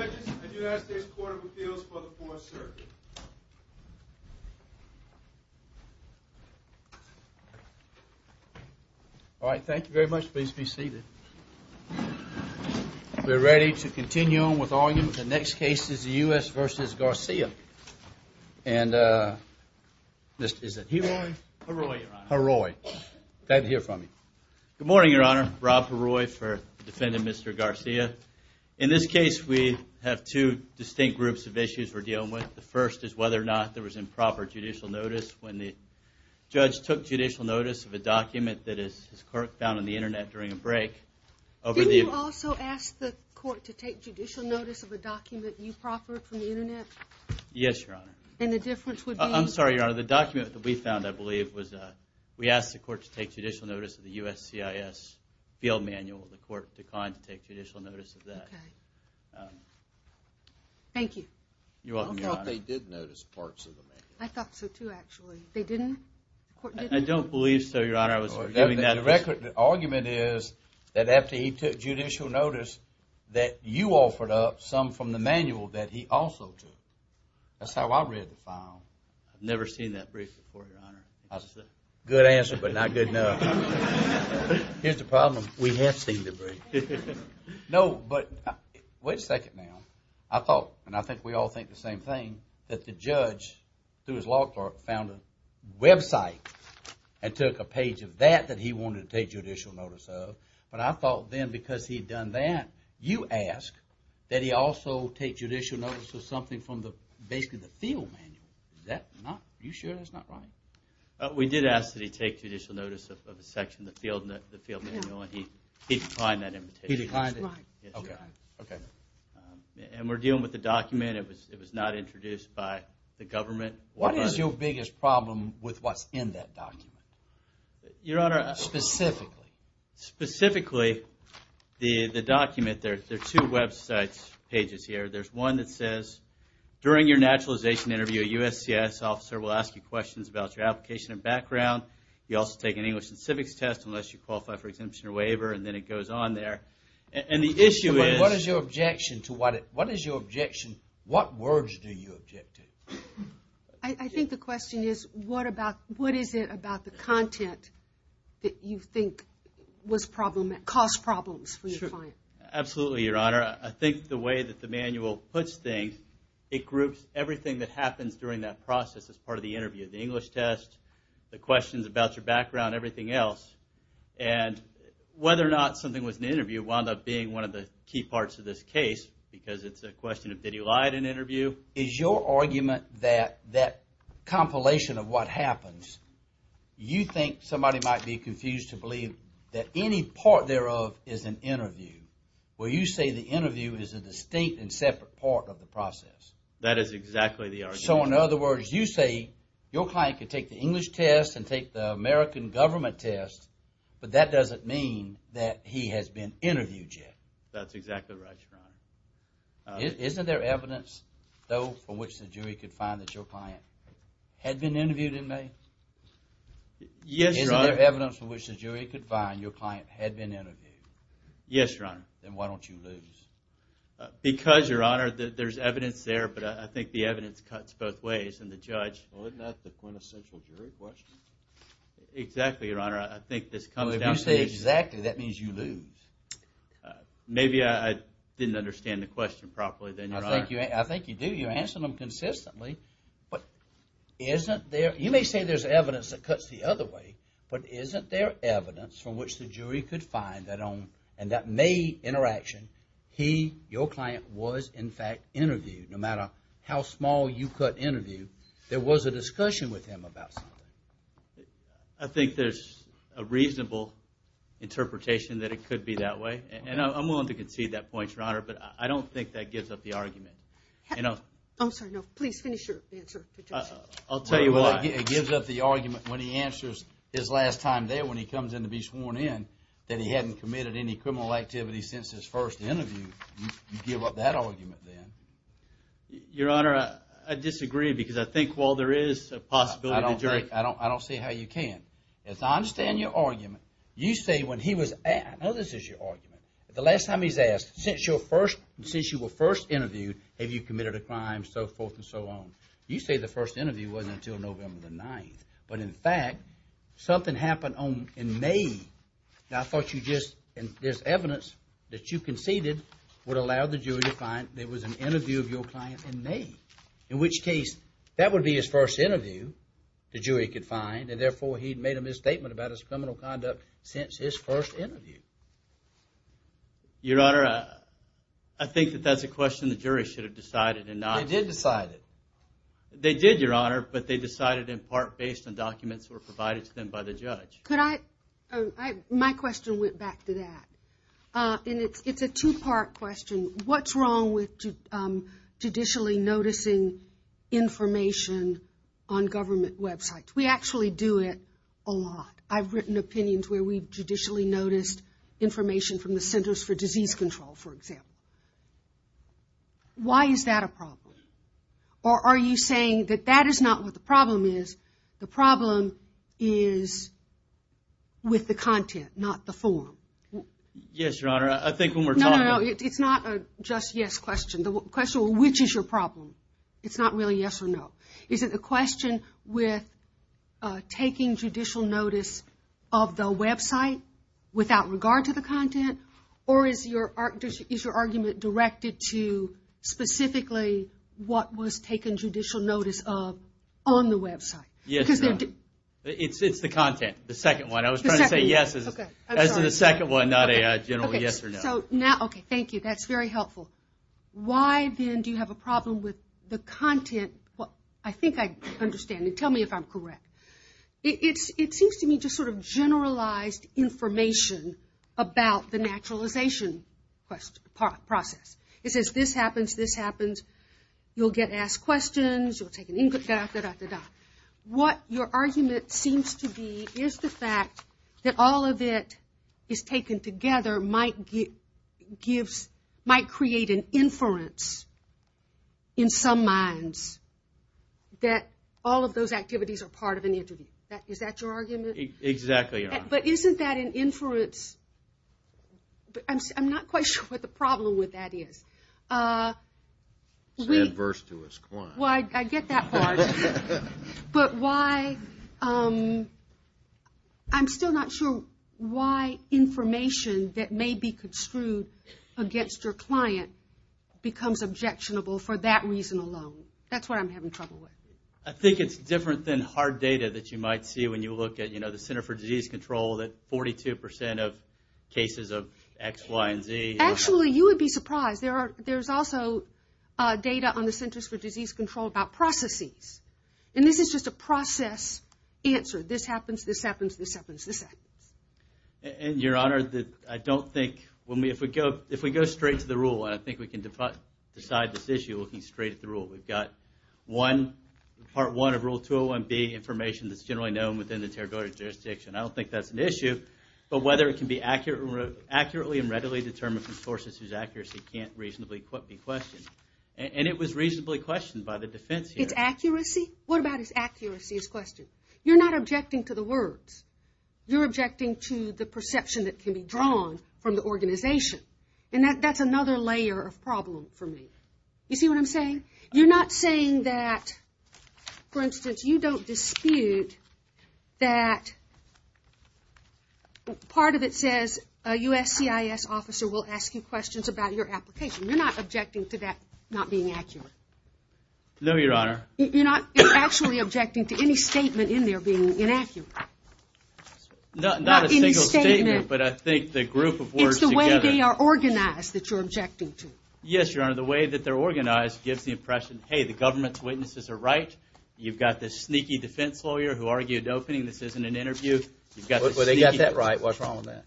The next case is the U.S. v. Garcia and this is Heroy. Good morning, Your Honor. Rob Heroy for defendant Mr. Garcia. In this case we have two distinct groups of issues we're dealing with. The first is whether or not there was improper judicial notice when the judge took judicial notice of a document that his court found on the Internet during a break. Did you also ask the court to take judicial notice of a document you proffered from the Internet? Yes, Your Honor. And the difference would be? I'm sorry, Your Honor. The document that we found, I believe, was we asked the court to take judicial notice of the USCIS field manual. The court declined to take judicial notice of that. Okay. Thank you. You're welcome, Your Honor. I thought they did notice parts of the manual. I thought so, too, actually. They didn't? The court didn't? I don't believe so, Your Honor. I was arguing that. The argument is that after he took judicial notice that you offered up some from the manual that he also took. That's how I read the file. I've never seen that brief before, Your Honor. That's a good answer but not good enough. Here's the problem. We have seen the brief. No, but wait a second now. I thought, and I think we all think the same thing, that the judge, through his law clerk, found a website and took a page of that that he wanted to take judicial notice of. But I thought then because he had done that, you asked that he also take judicial notice of something from basically the field manual. Is that not, are you sure that's not right? We did ask that he take judicial notice of a section of the field manual and he declined that invitation. He declined it? Yes, Your Honor. Okay. And we're dealing with a document. It was not introduced by the government. What is your biggest problem with what's in that document? Your Honor. Specifically. Specifically, the document, there are two website pages here. There's one that says, during your naturalization interview, a USCIS officer will ask you questions about your application and background. You also take an English and civics test unless you qualify for exemption or waiver. And then it goes on there. And the issue is. What is your objection to what, what is your objection, what words do you object to? I think the question is, what about, what is it about the content that you think was problem, caused problems for your client? Absolutely, Your Honor. I think the way that the manual puts things, it groups everything that happens during that process as part of the interview. The English test, the questions about your background, everything else. And whether or not something was an interview wound up being one of the key parts of this case because it's a question of, did he lie at an interview? Is your argument that that compilation of what happens, you think somebody might be confused to believe that any part thereof is an interview. Where you say the interview is a distinct and separate part of the process. That is exactly the argument. So in other words, you say your client can take the English test and take the American government test, but that doesn't mean that he has been interviewed yet. That's exactly right, Your Honor. Isn't there evidence, though, from which the jury could find that your client had been interviewed in May? Yes, Your Honor. Isn't there evidence from which the jury could find that your client had been interviewed? Yes, Your Honor. Then why don't you lose? Because, Your Honor, there's evidence there, but I think the evidence cuts both ways. And the judge… Well, isn't that the quintessential jury question? Exactly, Your Honor. I think this comes down to… Well, if you say exactly, that means you lose. Maybe I didn't understand the question properly, then, Your Honor. I think you do. You're answering them consistently. But isn't there… You may say there's evidence that cuts the other way, but isn't there evidence from which the jury could find that on… and that May interaction, he, your client, was in fact interviewed. No matter how small you cut interview, there was a discussion with him about something. I think there's a reasonable interpretation that it could be that way. And I'm willing to concede that point, Your Honor, but I don't think that gives up the argument. I'm sorry, no. Please finish your answer. I'll tell you why. It gives up the argument when he answers his last time there when he comes in to be sworn in that he hadn't committed any criminal activity since his first interview. You give up that argument, then. Your Honor, I disagree because I think while there is a possibility… I don't see how you can. I understand your argument. You say when he was… I know this is your argument. The last time he's asked, since you were first interviewed, have you committed a crime, so forth and so on. You say the first interview wasn't until November the 9th. But in fact, something happened in May. Now, I thought you just… and there's evidence that you conceded would allow the jury to find there was an interview of your client in May. In which case, that would be his first interview the jury could find, and therefore, he'd made a misstatement about his criminal conduct since his first interview. Your Honor, I think that that's a question the jury should have decided and not… They did decide it. They did, Your Honor, but they decided in part based on documents that were provided to them by the judge. My question went back to that. It's a two-part question. What's wrong with judicially noticing information on government websites? We actually do it a lot. I've written opinions where we've judicially noticed information from the Centers for Disease Control, for example. Why is that a problem? Or are you saying that that is not what the problem is? The problem is with the content, not the form? Yes, Your Honor. I think when we're talking… specifically what was taken judicial notice of on the website? Yes, Your Honor. It's the content, the second one. I was trying to say yes as in the second one, not a general yes or no. Okay, thank you. That's very helpful. Why, then, do you have a problem with the content? I think I understand. Tell me if I'm correct. It seems to me just sort of generalized information about the naturalization process. It says this happens, this happens. You'll get asked questions. What your argument seems to be is the fact that all of it is taken together might create an inference in some minds that all of those activities are part of an interview. Is that your argument? Exactly, Your Honor. But isn't that an inference? I'm not quite sure what the problem with that is. It's adverse to us. Well, I get that part. But why, I'm still not sure why information that may be construed against your client becomes objectionable for that reason alone. That's what I'm having trouble with. I think it's different than hard data that you might see when you look at, you know, the Center for Disease Control, that 42% of cases of X, Y, and Z. Actually, you would be surprised. There's also data on the Centers for Disease Control about processes. And this is just a process answer. This happens, this happens, this happens, this happens. And, Your Honor, I don't think, if we go straight to the rule, and I think we can decide this issue looking straight at the rule. We've got one, Part 1 of Rule 201B, information that's generally known within the territorial jurisdiction. I don't think that's an issue. But whether it can be accurately and readily determined from sources whose accuracy can't reasonably be questioned. And it was reasonably questioned by the defense here. It's accuracy? What about its accuracy is questioned? You're not objecting to the words. You're objecting to the perception that can be drawn from the organization. And that's another layer of problem for me. You see what I'm saying? You're not saying that, for instance, you don't dispute that part of it says a USCIS officer will ask you questions about your application. You're not objecting to that not being accurate. No, Your Honor. You're not actually objecting to any statement in there being inaccurate. Not a single statement, but I think the group of words together. It's the way they are organized that you're objecting to. Yes, Your Honor. The way that they're organized gives the impression, hey, the government's witnesses are right. You've got this sneaky defense lawyer who argued opening this isn't an interview. Well, they got that right. What's wrong with that?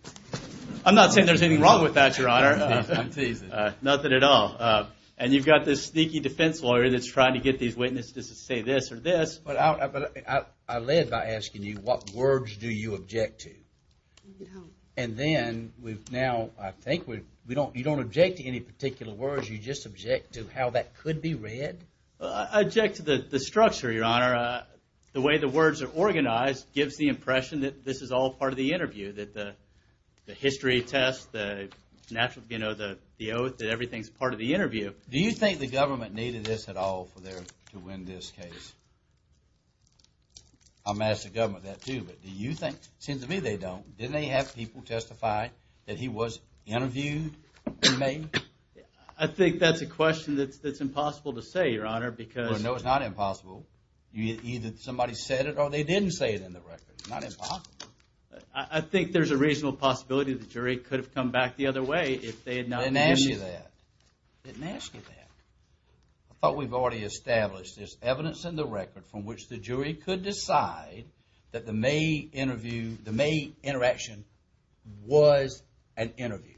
I'm not saying there's anything wrong with that, Your Honor. I'm teasing. Nothing at all. And you've got this sneaky defense lawyer that's trying to get these witnesses to say this or this. But I led by asking you what words do you object to? And then we've now, I think, you don't object to any particular words. You just object to how that could be read. I object to the structure, Your Honor. The way the words are organized gives the impression that this is all part of the interview, that the history test, the oath, that everything's part of the interview. Do you think the government needed this at all to win this case? I'm going to ask the government that, too. But do you think, it seems to me they don't. Didn't they have people testify that he was interviewed? I think that's a question that's impossible to say, Your Honor, because... Well, no, it's not impossible. Either somebody said it or they didn't say it in the record. It's not impossible. I think there's a reasonable possibility the jury could have come back the other way if they had not... I didn't ask you that. I thought we've already established there's evidence in the record from which the jury could decide that the May interaction was an interview.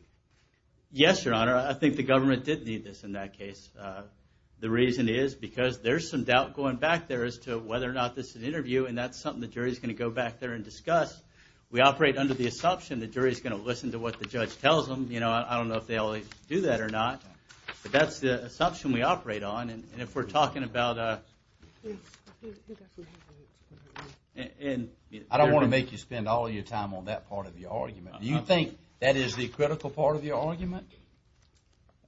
Yes, Your Honor. I think the government did need this in that case. The reason is because there's some doubt going back there as to whether or not this is an interview, and that's something the jury's going to go back there and discuss. We operate under the assumption the jury's going to listen to what the judge tells them. I don't know if they always do that or not, but that's the assumption we operate on. And if we're talking about... I don't want to make you spend all your time on that part of your argument. Do you think that is the critical part of your argument?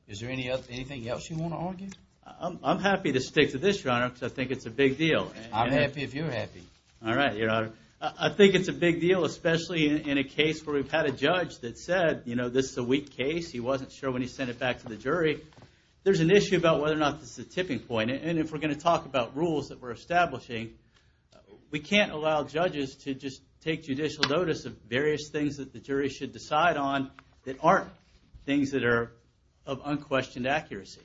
Is there anything else you want to argue? I'm happy to stick to this, Your Honor, because I think it's a big deal. I'm happy if you're happy. All right, Your Honor. I think it's a big deal, especially in a case where we've had a judge that said, you know, this is a weak case. He wasn't sure when he sent it back to the jury. There's an issue about whether or not this is a tipping point. And if we're going to talk about rules that we're establishing, we can't allow judges to just take judicial notice of various things that the jury should decide on that aren't things that are of unquestioned accuracy.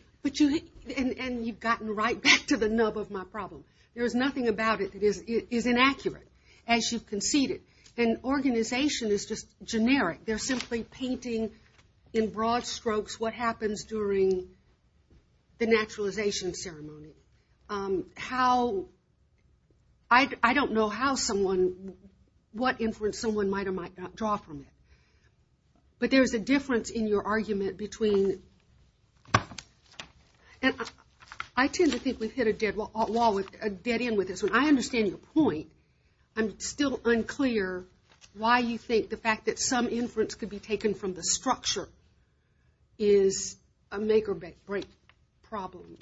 And you've gotten right back to the nub of my problem. There's nothing about it that is inaccurate, as you've conceded. And organization is just generic. They're simply painting in broad strokes what happens during the naturalization ceremony. I don't know what inference someone might or might not draw from it. But there's a difference in your argument between – and I tend to think we've hit a dead end with this. When I understand your point, I'm still unclear why you think the fact that some inference could be taken from the structure is a make or break problem.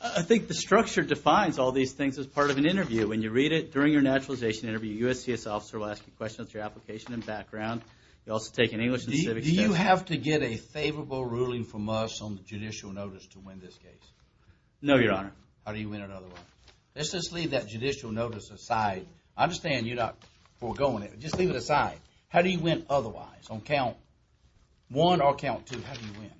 I think the structure defines all these things as part of an interview. When you read it during your naturalization interview, your USCIS officer will ask you questions about your application and background. You'll also take an English and civic – Do you have to get a favorable ruling from us on the judicial notice to win this case? No, Your Honor. How do you win it otherwise? Let's just leave that judicial notice aside. I understand you're not foregoing it, but just leave it aside. How do you win otherwise on count one or count two? How do you win?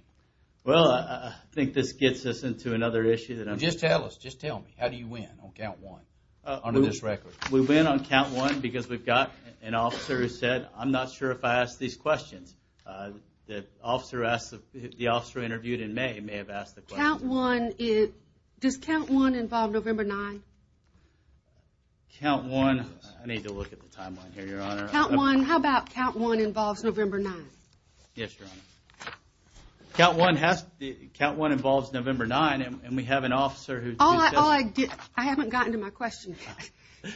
Well, I think this gets us into another issue. Just tell us. Just tell me. How do you win on count one on this record? We win on count one because we've got an officer who said, I'm not sure if I asked these questions. The officer interviewed in May may have asked the questions. Does count one involve November 9? Count one – I need to look at the timeline here, Your Honor. How about count one involves November 9? Yes, Your Honor. Count one involves November 9, and we have an officer who – I haven't gotten to my question yet.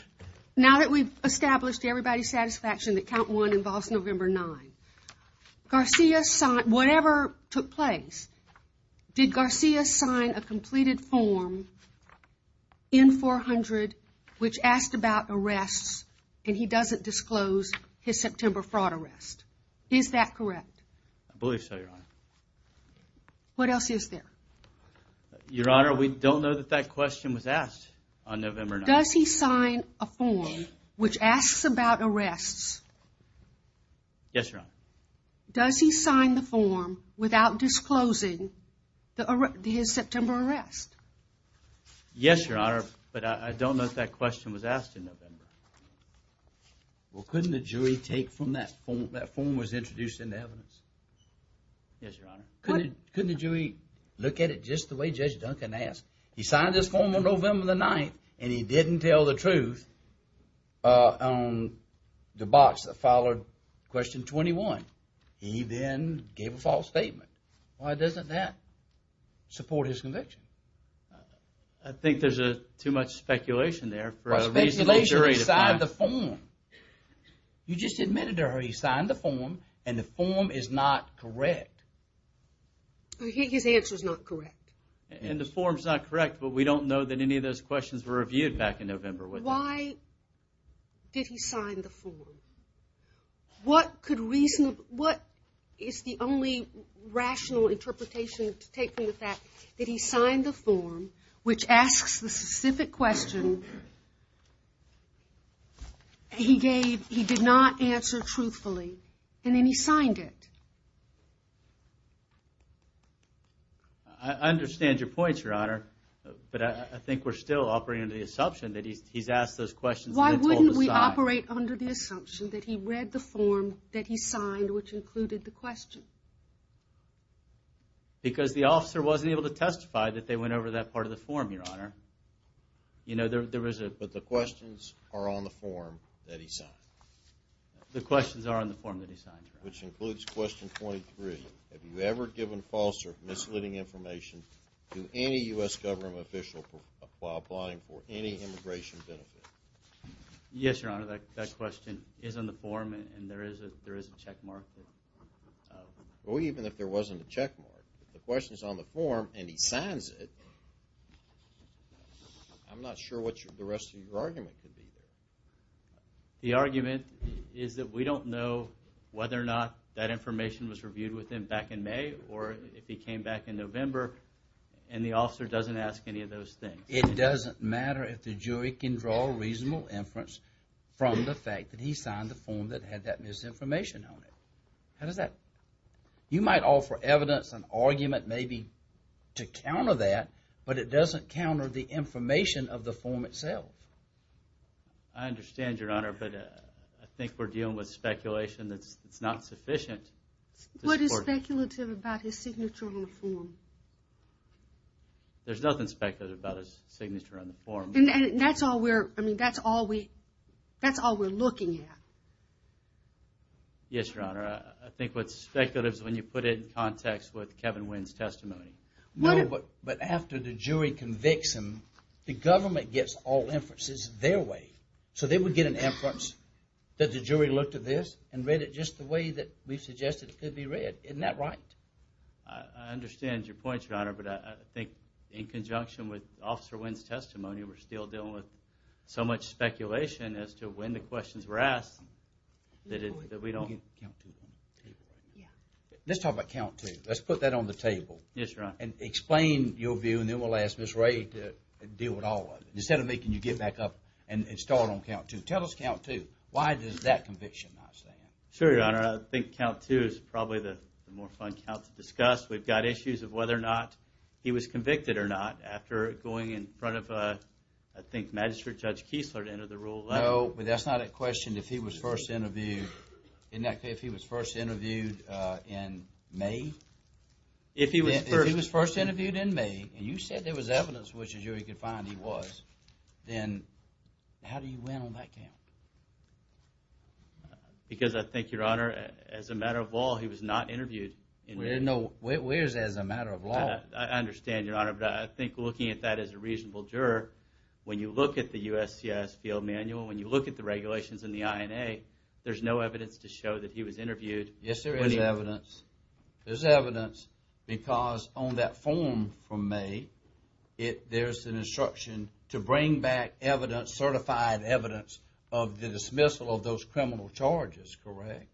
Now that we've established everybody's satisfaction that count one involves November 9, whatever took place, did Garcia sign a completed form in 400 which asked about arrests, and he doesn't disclose his September fraud arrest? Is that correct? I believe so, Your Honor. What else is there? Your Honor, we don't know that that question was asked on November 9. Does he sign a form which asks about arrests? Yes, Your Honor. Does he sign the form without disclosing his September arrest? Yes, Your Honor, but I don't know if that question was asked in November. Well, couldn't the jury take from that form – that form was introduced into evidence? Yes, Your Honor. Couldn't the jury look at it just the way Judge Duncan asked? He signed this form on November 9, and he didn't tell the truth on the box that followed question 21. He then gave a false statement. Why doesn't that support his conviction? I think there's too much speculation there for a reasonable jury to find. Speculation – he signed the form. You just admitted to her he signed the form, and the form is not correct. His answer is not correct. And the form's not correct, but we don't know that any of those questions were reviewed back in November, would you? Why did he sign the form? What is the only rational interpretation to take from the fact that he signed the form, which asks the specific question he did not answer truthfully, and then he signed it? I understand your points, Your Honor, but I think we're still operating under the assumption that he's asked those questions and then told the side. We operate under the assumption that he read the form that he signed, which included the question. Because the officer wasn't able to testify that they went over that part of the form, Your Honor. But the questions are on the form that he signed? The questions are on the form that he signed, Your Honor. Which includes question 23. Have you ever given false or misleading information to any U.S. government official while applying for any immigration benefit? Yes, Your Honor, that question is on the form and there is a checkmark. Well, even if there wasn't a checkmark, if the question's on the form and he signs it, I'm not sure what the rest of your argument could be. The argument is that we don't know whether or not that information was reviewed with him back in May or if he came back in November, and the officer doesn't ask any of those things. It doesn't matter if the jury can draw a reasonable inference from the fact that he signed the form that had that misinformation on it. How does that? You might offer evidence and argument maybe to counter that, but it doesn't counter the information of the form itself. I understand, Your Honor, but I think we're dealing with speculation that's not sufficient. What is speculative about his signature on the form? There's nothing speculative about his signature on the form. And that's all we're looking at. Yes, Your Honor, I think what's speculative is when you put it in context with Kevin Wynn's testimony. No, but after the jury convicts him, the government gets all inferences their way, so they would get an inference that the jury looked at this and read it just the way that we suggested it could be read. Isn't that right? I understand your point, Your Honor, but I think in conjunction with Officer Wynn's testimony, we're still dealing with so much speculation as to when the questions were asked that we don't… Let's talk about count two. Let's put that on the table. Yes, Your Honor. And explain your view, and then we'll ask Ms. Ray to deal with all of it. Instead of making you get back up and start on count two. Tell us count two. Why does that conviction not stand? Sure, Your Honor. I think count two is probably the more fun count to discuss. We've got issues of whether or not he was convicted or not after going in front of, I think, Magistrate Judge Kiesler to enter the rule. No, but that's not a question if he was first interviewed in May. If he was first interviewed in May, and you said there was evidence which a jury could find he was, then how do you win on that count? Because I think, Your Honor, as a matter of law, he was not interviewed. Where's as a matter of law? I understand, Your Honor, but I think looking at that as a reasonable juror, when you look at the USCIS field manual, when you look at the regulations in the INA, there's no evidence to show that he was interviewed. Yes, there is evidence. There's evidence because on that form from May, there's an instruction to bring back evidence, certified evidence, of the dismissal of those criminal charges, correct?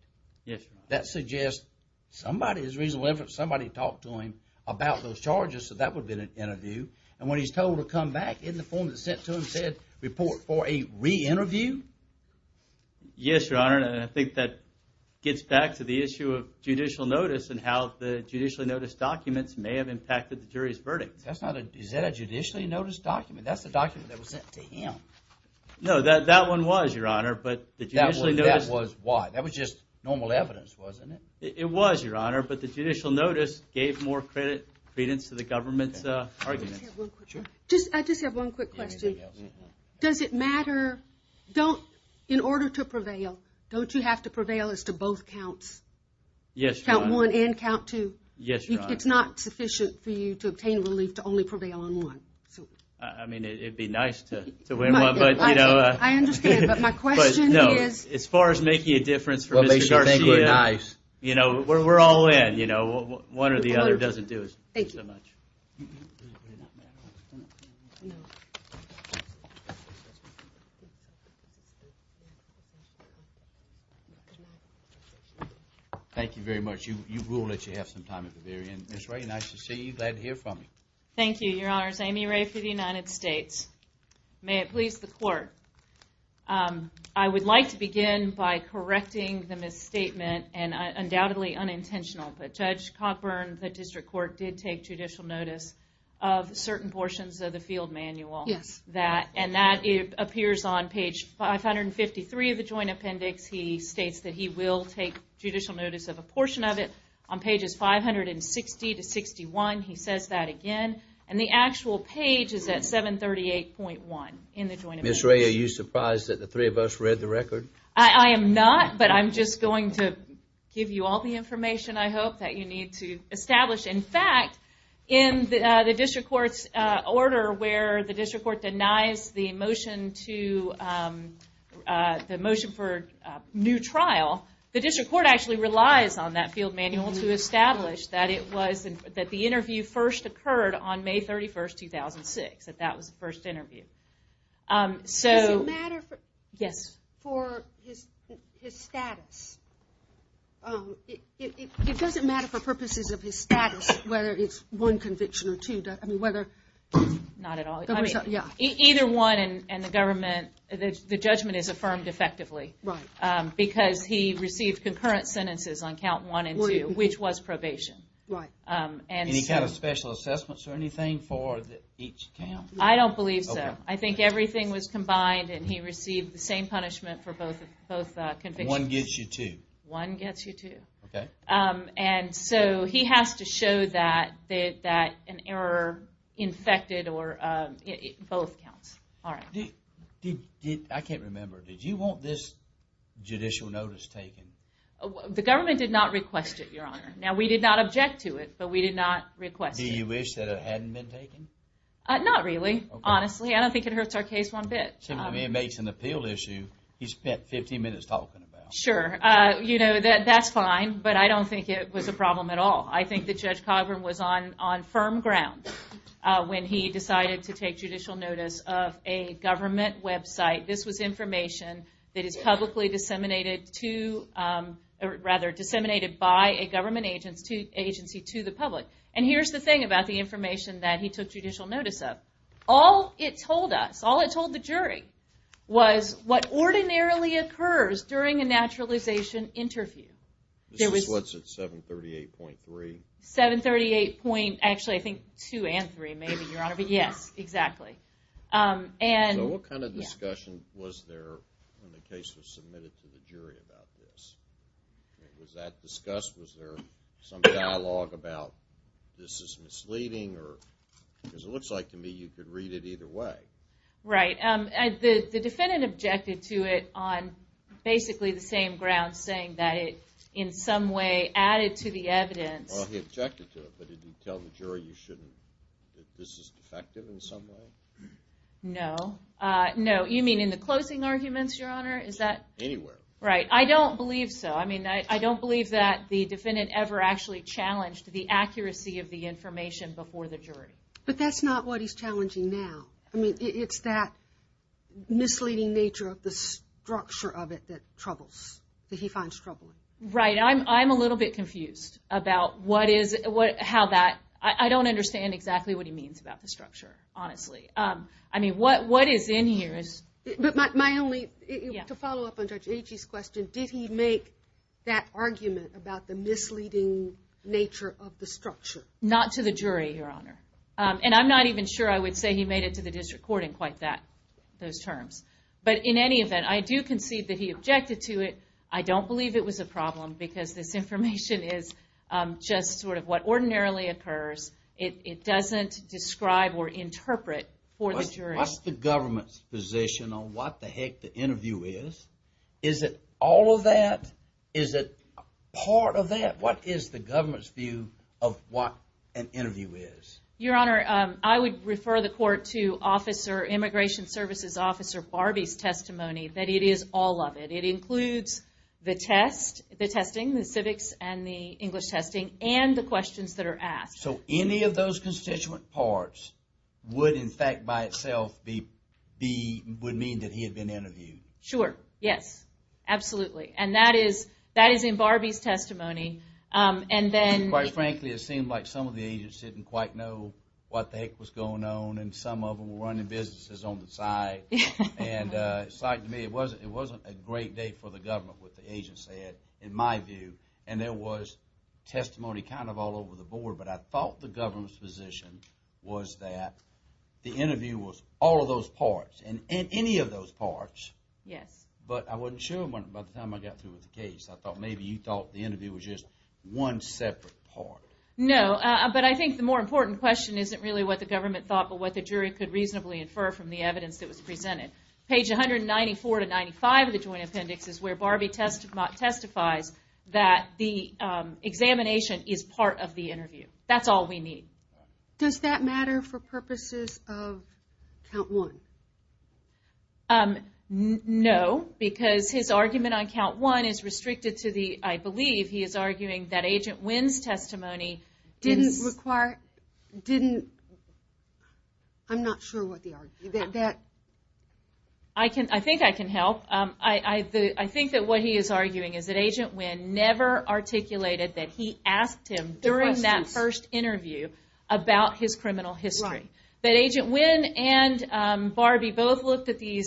Yes, Your Honor. That suggests somebody, as a reasonable inference, somebody talked to him about those charges, so that would have been an interview. And when he's told to come back, isn't the form that's sent to him said, report for a re-interview? Yes, Your Honor, and I think that gets back to the issue of judicial notice and how the judicially noticed documents may have impacted the jury's verdict. Is that a judicially noticed document? That's the document that was sent to him. No, that one was, Your Honor. That was why? That was just normal evidence, wasn't it? It was, Your Honor, but the judicial notice gave more credence to the government's arguments. I just have one quick question. Does it matter, in order to prevail, don't you have to prevail as to both counts? Yes, Your Honor. Count one and count two? Yes, Your Honor. It's not sufficient for you to obtain relief to only prevail on one. I mean, it would be nice to win one, but, you know. I understand, but my question is. As far as making a difference for Mr. Garcia, you know, we're all in. One or the other doesn't do us so much. Thank you. No. Thank you very much. You rule that you have some time at the very end. Ms. Ray, nice to see you. Glad to hear from you. Thank you, Your Honors. Amy Ray for the United States. May it please the Court. I would like to begin by correcting the misstatement, and undoubtedly unintentional, but Judge Cockburn, the District Court, did take judicial notice of certain portions of the field manual. Yes. And that appears on page 553 of the Joint Appendix. He states that he will take judicial notice of a portion of it. On pages 560-61, he says that again. And the actual page is at 738.1 in the Joint Appendix. Ms. Ray, are you surprised that the three of us read the record? I am not, but I'm just going to give you all the information I hope that you need to establish. In fact, in the District Court's order where the District Court denies the motion for new trial, the District Court actually relies on that field manual to establish that the interview first occurred on May 31, 2006. That that was the first interview. Does it matter for... Yes. For his status? It doesn't matter for purposes of his status whether it's one conviction or two, I mean whether... Not at all. Either one, and the government, the judgment is affirmed effectively. Right. Because he received concurrent sentences on count one and two, which was probation. Right. Any kind of special assessments or anything for each count? I don't believe so. I think everything was combined and he received the same punishment for both convictions. One gets you two. One gets you two. Okay. And so he has to show that an error infected or... both counts. All right. I can't remember, did you want this judicial notice taken? The government did not request it, Your Honor. Now, we did not object to it, but we did not request it. Do you wish that it hadn't been taken? Not really, honestly. I don't think it hurts our case one bit. I mean, it makes an appeal issue he spent 15 minutes talking about. Sure. You know, that's fine, but I don't think it was a problem at all. I think that Judge Cogburn was on firm ground when he decided to take judicial notice of a government website. This was information that is publicly disseminated to... rather, disseminated by a government agency to the public. And here's the thing about the information that he took judicial notice of. All it told us, all it told the jury, was what ordinarily occurs during a naturalization interview. This is what's at 738.3? 738. actually, I think 2 and 3, maybe, Your Honor. But yes, exactly. So what kind of discussion was there when the case was submitted to the jury about this? Was that discussed? Was there some dialogue about this is misleading? Because it looks like to me you could read it either way. Right. The defendant objected to it on basically the same grounds, saying that it in some way added to the evidence. Well, he objected to it, but did he tell the jury this is defective in some way? No. No. You mean in the closing arguments, Your Honor? Anywhere. Right. I don't believe so. I mean, I don't believe that the defendant ever actually challenged the accuracy of the information before the jury. But that's not what he's challenging now. I mean, it's that misleading nature of the structure of it that troubles, that he finds troubling. Right. I'm a little bit confused about what is, how that, I don't understand exactly what he means about the structure, honestly. I mean, what is in here is. But my only, to follow up on Judge Agee's question, did he make that argument about the misleading nature of the structure? Not to the jury, Your Honor. And I'm not even sure I would say he made it to the district court in quite that, those terms. But in any event, I do concede that he objected to it. I don't believe it was a problem because this information is just sort of what ordinarily occurs. It doesn't describe or interpret for the jury. What's the government's position on what the heck the interview is? Is it all of that? Is it part of that? What is the government's view of what an interview is? Your Honor, I would refer the court to Immigration Services Officer Barbie's testimony that it is all of it. It includes the test, the testing, the civics and the English testing, and the questions that are asked. So any of those constituent parts would in fact by itself be, would mean that he had been interviewed. Sure, yes. Absolutely. And that is in Barbie's testimony. And then... Quite frankly, it seemed like some of the agents didn't quite know what the heck was going on. And some of them were running businesses on the side. And it's like to me, it wasn't a great day for the government, what the agents said, in my view. And there was testimony kind of all over the board. But I thought the government's position was that the interview was all of those parts. And any of those parts. Yes. But I wasn't sure about the time I got through with the case. I thought maybe you thought the interview was just one separate part. No, but I think the more important question isn't really what the government thought, but what the jury could reasonably infer from the evidence that was presented. Page 194 to 95 of the Joint Appendix is where Barbie testifies that the examination is part of the interview. That's all we need. Does that matter for purposes of Count 1? No, because his argument on Count 1 is restricted to the, I believe he is arguing that Agent Wynn's testimony... I'm not sure what the argument is. I think I can help. I think that what he is arguing is that Agent Wynn never articulated that he asked him during that first interview about his criminal history. That Agent Wynn and Barbie both looked at the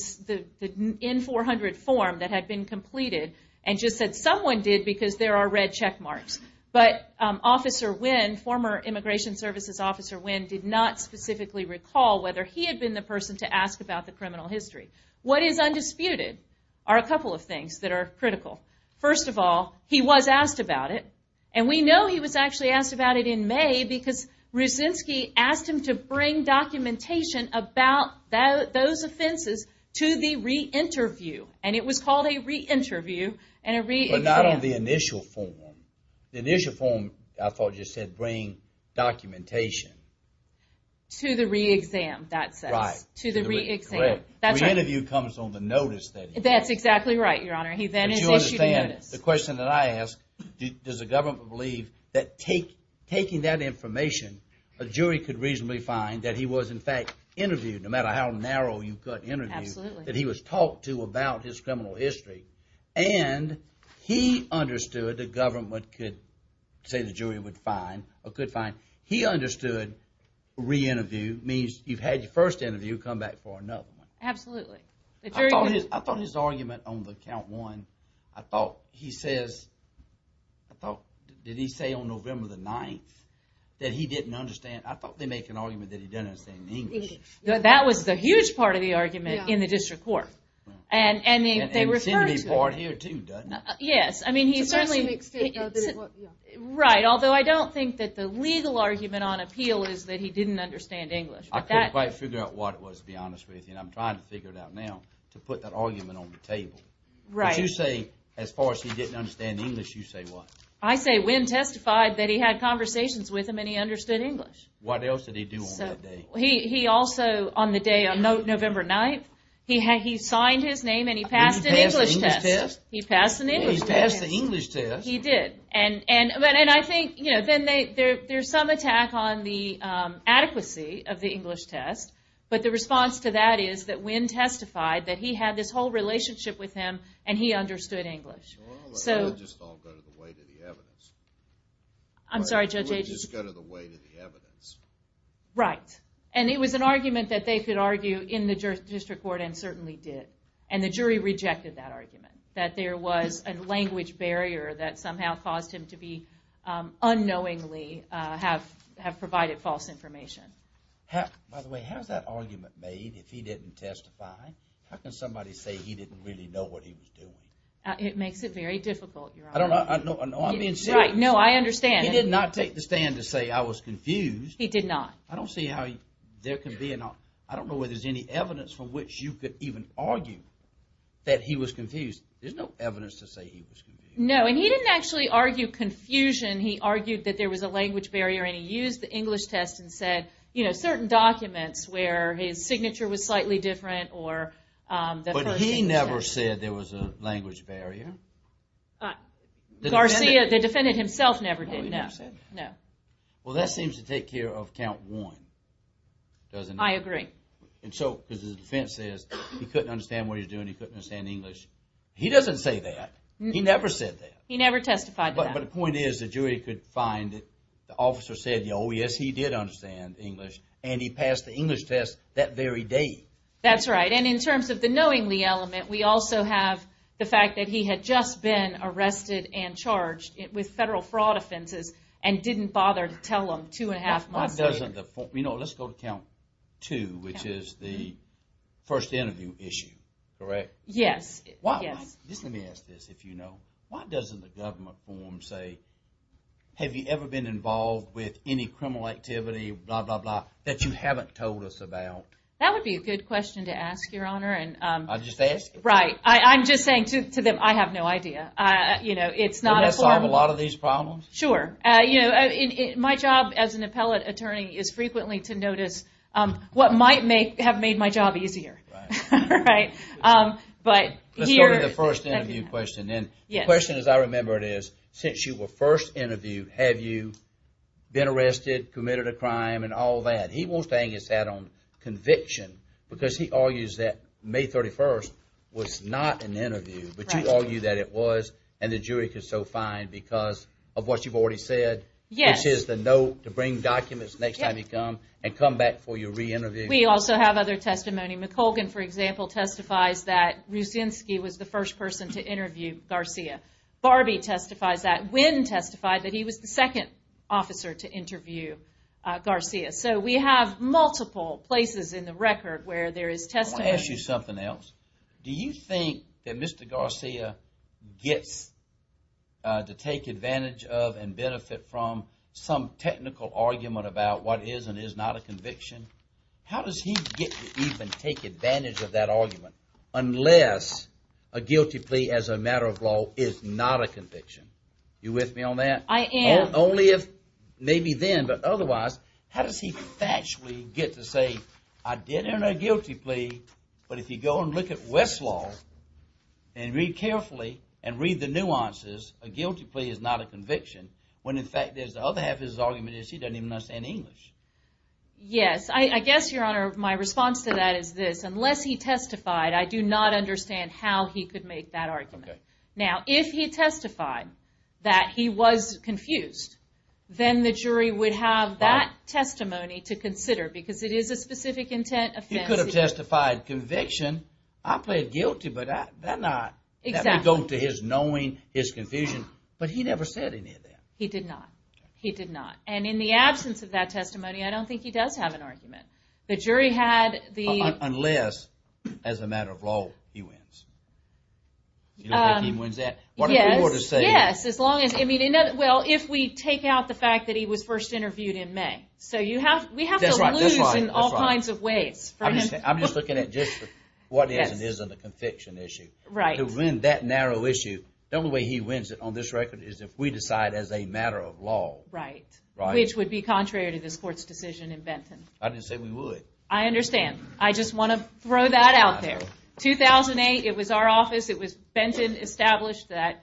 N-400 form that had been completed, and just said someone did because there are red check marks. But Officer Wynn, former Immigration Services Officer Wynn, did not specifically recall whether he had been the person to ask about the criminal history. What is undisputed are a couple of things that are critical. First of all, he was asked about it, and we know he was actually asked about it in May because Rusinski asked him to bring documentation about those offenses to the re-interview. And it was called a re-interview. But not on the initial form. The initial form, I thought you said, bring documentation. To the re-exam, that says. To the re-exam. The re-interview comes on the notice. That's exactly right, Your Honor. But you understand, the question that I ask, does the government believe that taking that information, a jury could reasonably find that he was in fact interviewed, no matter how narrow you cut interviews, that he was talked to about his criminal history, and he understood the government could say the jury would find, or could find, he understood re-interview means you've had your first interview, come back for another one. Absolutely. I thought his argument on the count one, I thought he says, I thought, did he say on November the 9th, that he didn't understand, I thought they make an argument that he didn't understand in English. That was the huge part of the argument in the district court. And they referred to it. And it seemed to be part here, too, doesn't it? Yes, I mean, he certainly, right, although I don't think that the legal argument on appeal is that he didn't understand English. I couldn't quite figure out what it was, to be honest with you, and I'm trying to figure it out now, to put that argument on the table. But you say, as far as he didn't understand English, you say what? I say Wynn testified that he had conversations with him and he understood English. What else did he do on that day? He also, on the day, on November 9th, he signed his name and he passed an English test. He passed an English test. He passed the English test. He did. And I think, you know, there's some attack on the adequacy of the English test, but the response to that is that Wynn testified that he had this whole relationship with him and he understood English. Well, let's just all go to the weight of the evidence. I'm sorry, Judge Agee? Let's go to the weight of the evidence. Right. And it was an argument that they could argue in the district court and certainly did. And the jury rejected that argument, that there was a language barrier that somehow caused him to be unknowingly have provided false information. By the way, how is that argument made if he didn't testify? How can somebody say he didn't really know what he was doing? It makes it very difficult, Your Honor. I don't know. I'm being serious. Right. No, I understand. He did not take the stand to say I was confused. He did not. I don't see how there can be an argument. I don't know whether there's any evidence from which you could even argue that he was confused. There's no evidence to say he was confused. No, and he didn't actually argue confusion. He argued that there was a language barrier, and he used the English test and said, you know, certain documents where his signature was slightly different or the person. But he never said there was a language barrier. The defendant himself never did, no. No. Well, that seems to take care of count one, doesn't it? I agree. And so because his defense says he couldn't understand what he was doing, he couldn't understand English. He doesn't say that. He never said that. He never testified to that. But the point is the jury could find that the officer said, oh, yes, he did understand English, and he passed the English test that very day. That's right. And in terms of the knowingly element, we also have the fact that he had just been arrested and charged with federal fraud offenses and didn't bother to tell them two and a half months later. You know, let's go to count two, which is the first interview issue, correct? Yes. Let me ask this, if you know. Why doesn't the government form say, have you ever been involved with any criminal activity, blah, blah, blah, that you haven't told us about? That would be a good question to ask, Your Honor. I'm just asking. Right. I'm just saying to them, I have no idea. You know, it's not a form. Doesn't that solve a lot of these problems? Sure. You know, my job as an appellate attorney is frequently to notice what might have made my job easier. Right. Right. But here. Let's go to the first interview question then. Yes. The question, as I remember it, is since you were first interviewed, have you been arrested, committed a crime, and all that? And he won't stay and get sat on conviction because he argues that May 31st was not an interview. Right. But you argue that it was, and the jury could so find because of what you've already said. Yes. Which is the note to bring documents next time you come and come back for your re-interview. We also have other testimony. McColgan, for example, testifies that Rusinski was the first person to interview Garcia. Barbie testifies that. Wynn testified that he was the second officer to interview Garcia. So we have multiple places in the record where there is testimony. I want to ask you something else. Do you think that Mr. Garcia gets to take advantage of and benefit from some technical argument about what is and is not a conviction? How does he get to even take advantage of that argument unless a guilty plea as a matter of law is not a conviction? You with me on that? I am. Not only if, maybe then, but otherwise. How does he actually get to say, I did earn a guilty plea, but if you go and look at Westlaw and read carefully and read the nuances, a guilty plea is not a conviction, when in fact the other half of his argument is he doesn't even understand English. Yes. I guess, Your Honor, my response to that is this. Unless he testified, I do not understand how he could make that argument. Okay. Now, if he testified that he was confused, then the jury would have that testimony to consider because it is a specific intent offense. He could have testified conviction. I plead guilty, but that would go to his knowing, his confusion. But he never said any of that. He did not. He did not. And in the absence of that testimony, I don't think he does have an argument. Unless, as a matter of law, he wins. You don't think he wins that? Yes. Yes, as long as, well, if we take out the fact that he was first interviewed in May. So we have to lose in all kinds of ways. I'm just looking at just what is and isn't a conviction issue. Right. To win that narrow issue, the only way he wins it on this record is if we decide as a matter of law. Right. Which would be contrary to this Court's decision in Benton. I didn't say we would. I understand. I just want to throw that out there. In 2008, it was our office, it was Benton, established that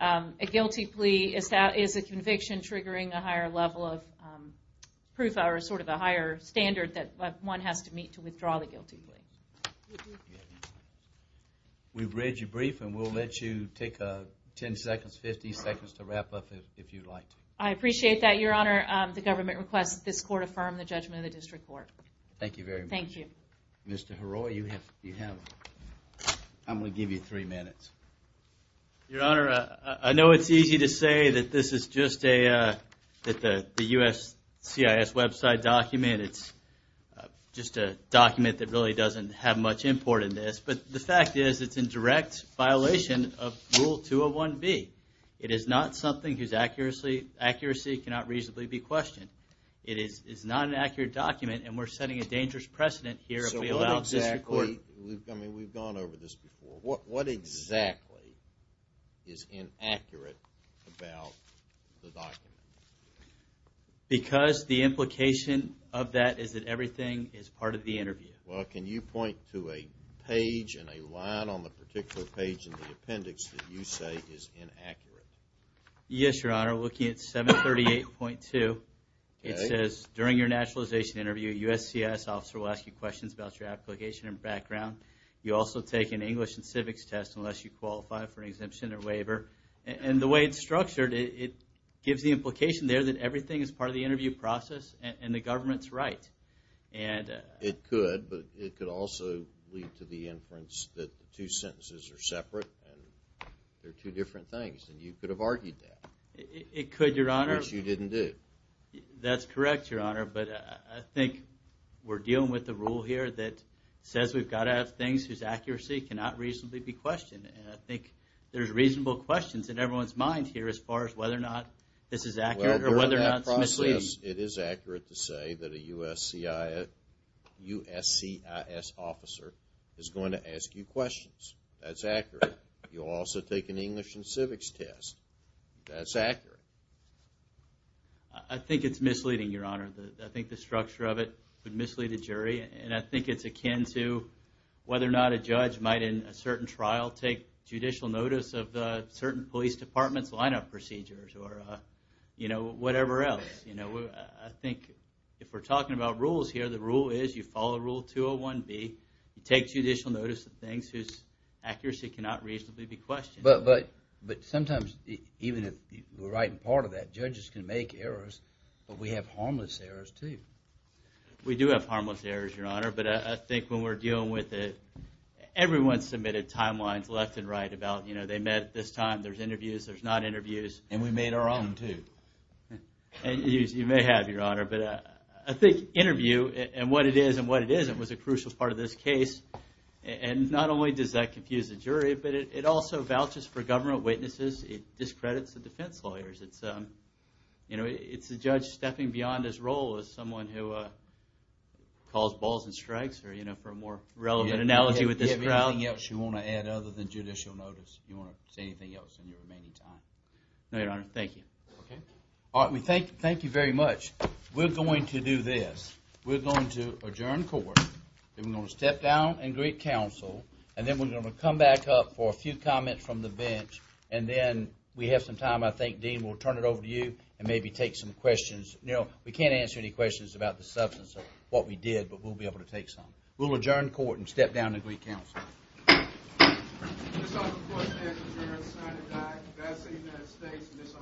a guilty plea is a conviction triggering a higher level of proof or sort of a higher standard that one has to meet to withdraw the guilty plea. We've read your brief, and we'll let you take 10 seconds, 50 seconds to wrap up if you'd like. I appreciate that, Your Honor. The government requests that this Court affirm the judgment of the District Court. Thank you very much. Thank you. Mr. Heroy, you have, I'm going to give you three minutes. Your Honor, I know it's easy to say that this is just the USCIS website document. It's just a document that really doesn't have much import in this. But the fact is it's in direct violation of Rule 201B. It is not something whose accuracy cannot reasonably be questioned. It is not an accurate document, and we're setting a dangerous precedent here. So what exactly, I mean, we've gone over this before. What exactly is inaccurate about the document? Because the implication of that is that everything is part of the interview. Well, can you point to a page and a line on the particular page in the appendix that you say is inaccurate? Yes, Your Honor. Looking at 738.2, it says, During your nationalization interview, a USCIS officer will ask you questions about your application and background. You also take an English and civics test unless you qualify for an exemption or waiver. And the way it's structured, it gives the implication there that everything is part of the interview process and the government's right. It could, but it could also lead to the inference that the two sentences are separate and they're two different things, and you could have argued that. It could, Your Honor. Which you didn't do. That's correct, Your Honor, but I think we're dealing with a rule here that says we've got to have things whose accuracy cannot reasonably be questioned, and I think there's reasonable questions in everyone's minds here as far as whether or not this is accurate or whether or not it's misleading. Well, during that process, it is accurate to say that a USCIS officer is going to ask you questions. That's accurate. You'll also take an English and civics test. That's accurate. I think it's misleading, Your Honor. I think the structure of it would mislead a jury, and I think it's akin to whether or not a judge might in a certain trial take judicial notice of certain police department's lineup procedures or, you know, whatever else. You know, I think if we're talking about rules here, the rule is you follow Rule 201B. You take judicial notice of things whose accuracy cannot reasonably be questioned. But sometimes, even if we're right in part of that, judges can make errors, but we have harmless errors, too. We do have harmless errors, Your Honor, but I think when we're dealing with it, everyone submitted timelines left and right about, you know, they met at this time. There's interviews. There's not interviews. And we made our own, too. You may have, Your Honor, but I think interview and what it is and what it isn't was a crucial part of this case, and not only does that confuse the jury, but it also vouches for government witnesses. It discredits the defense lawyers. It's, you know, it's a judge stepping beyond his role as someone who calls balls and strikes or, you know, for a more relevant analogy with this trial. Do you have anything else you want to add other than judicial notice? Do you want to say anything else in your remaining time? No, Your Honor. Thank you. Okay. All right. Thank you very much. We're going to do this. We're going to adjourn court. Then we're going to step down and greet counsel, and then we're going to come back up for a few comments from the bench, and then we have some time, I think, Dean, we'll turn it over to you and maybe take some questions. You know, we can't answer any questions about the substance of what we did, but we'll be able to take some. We'll adjourn court and step down and greet counsel. Ms. Osborne, court is adjourned. Signed and diagnosed in the United States, Ms. Osborne.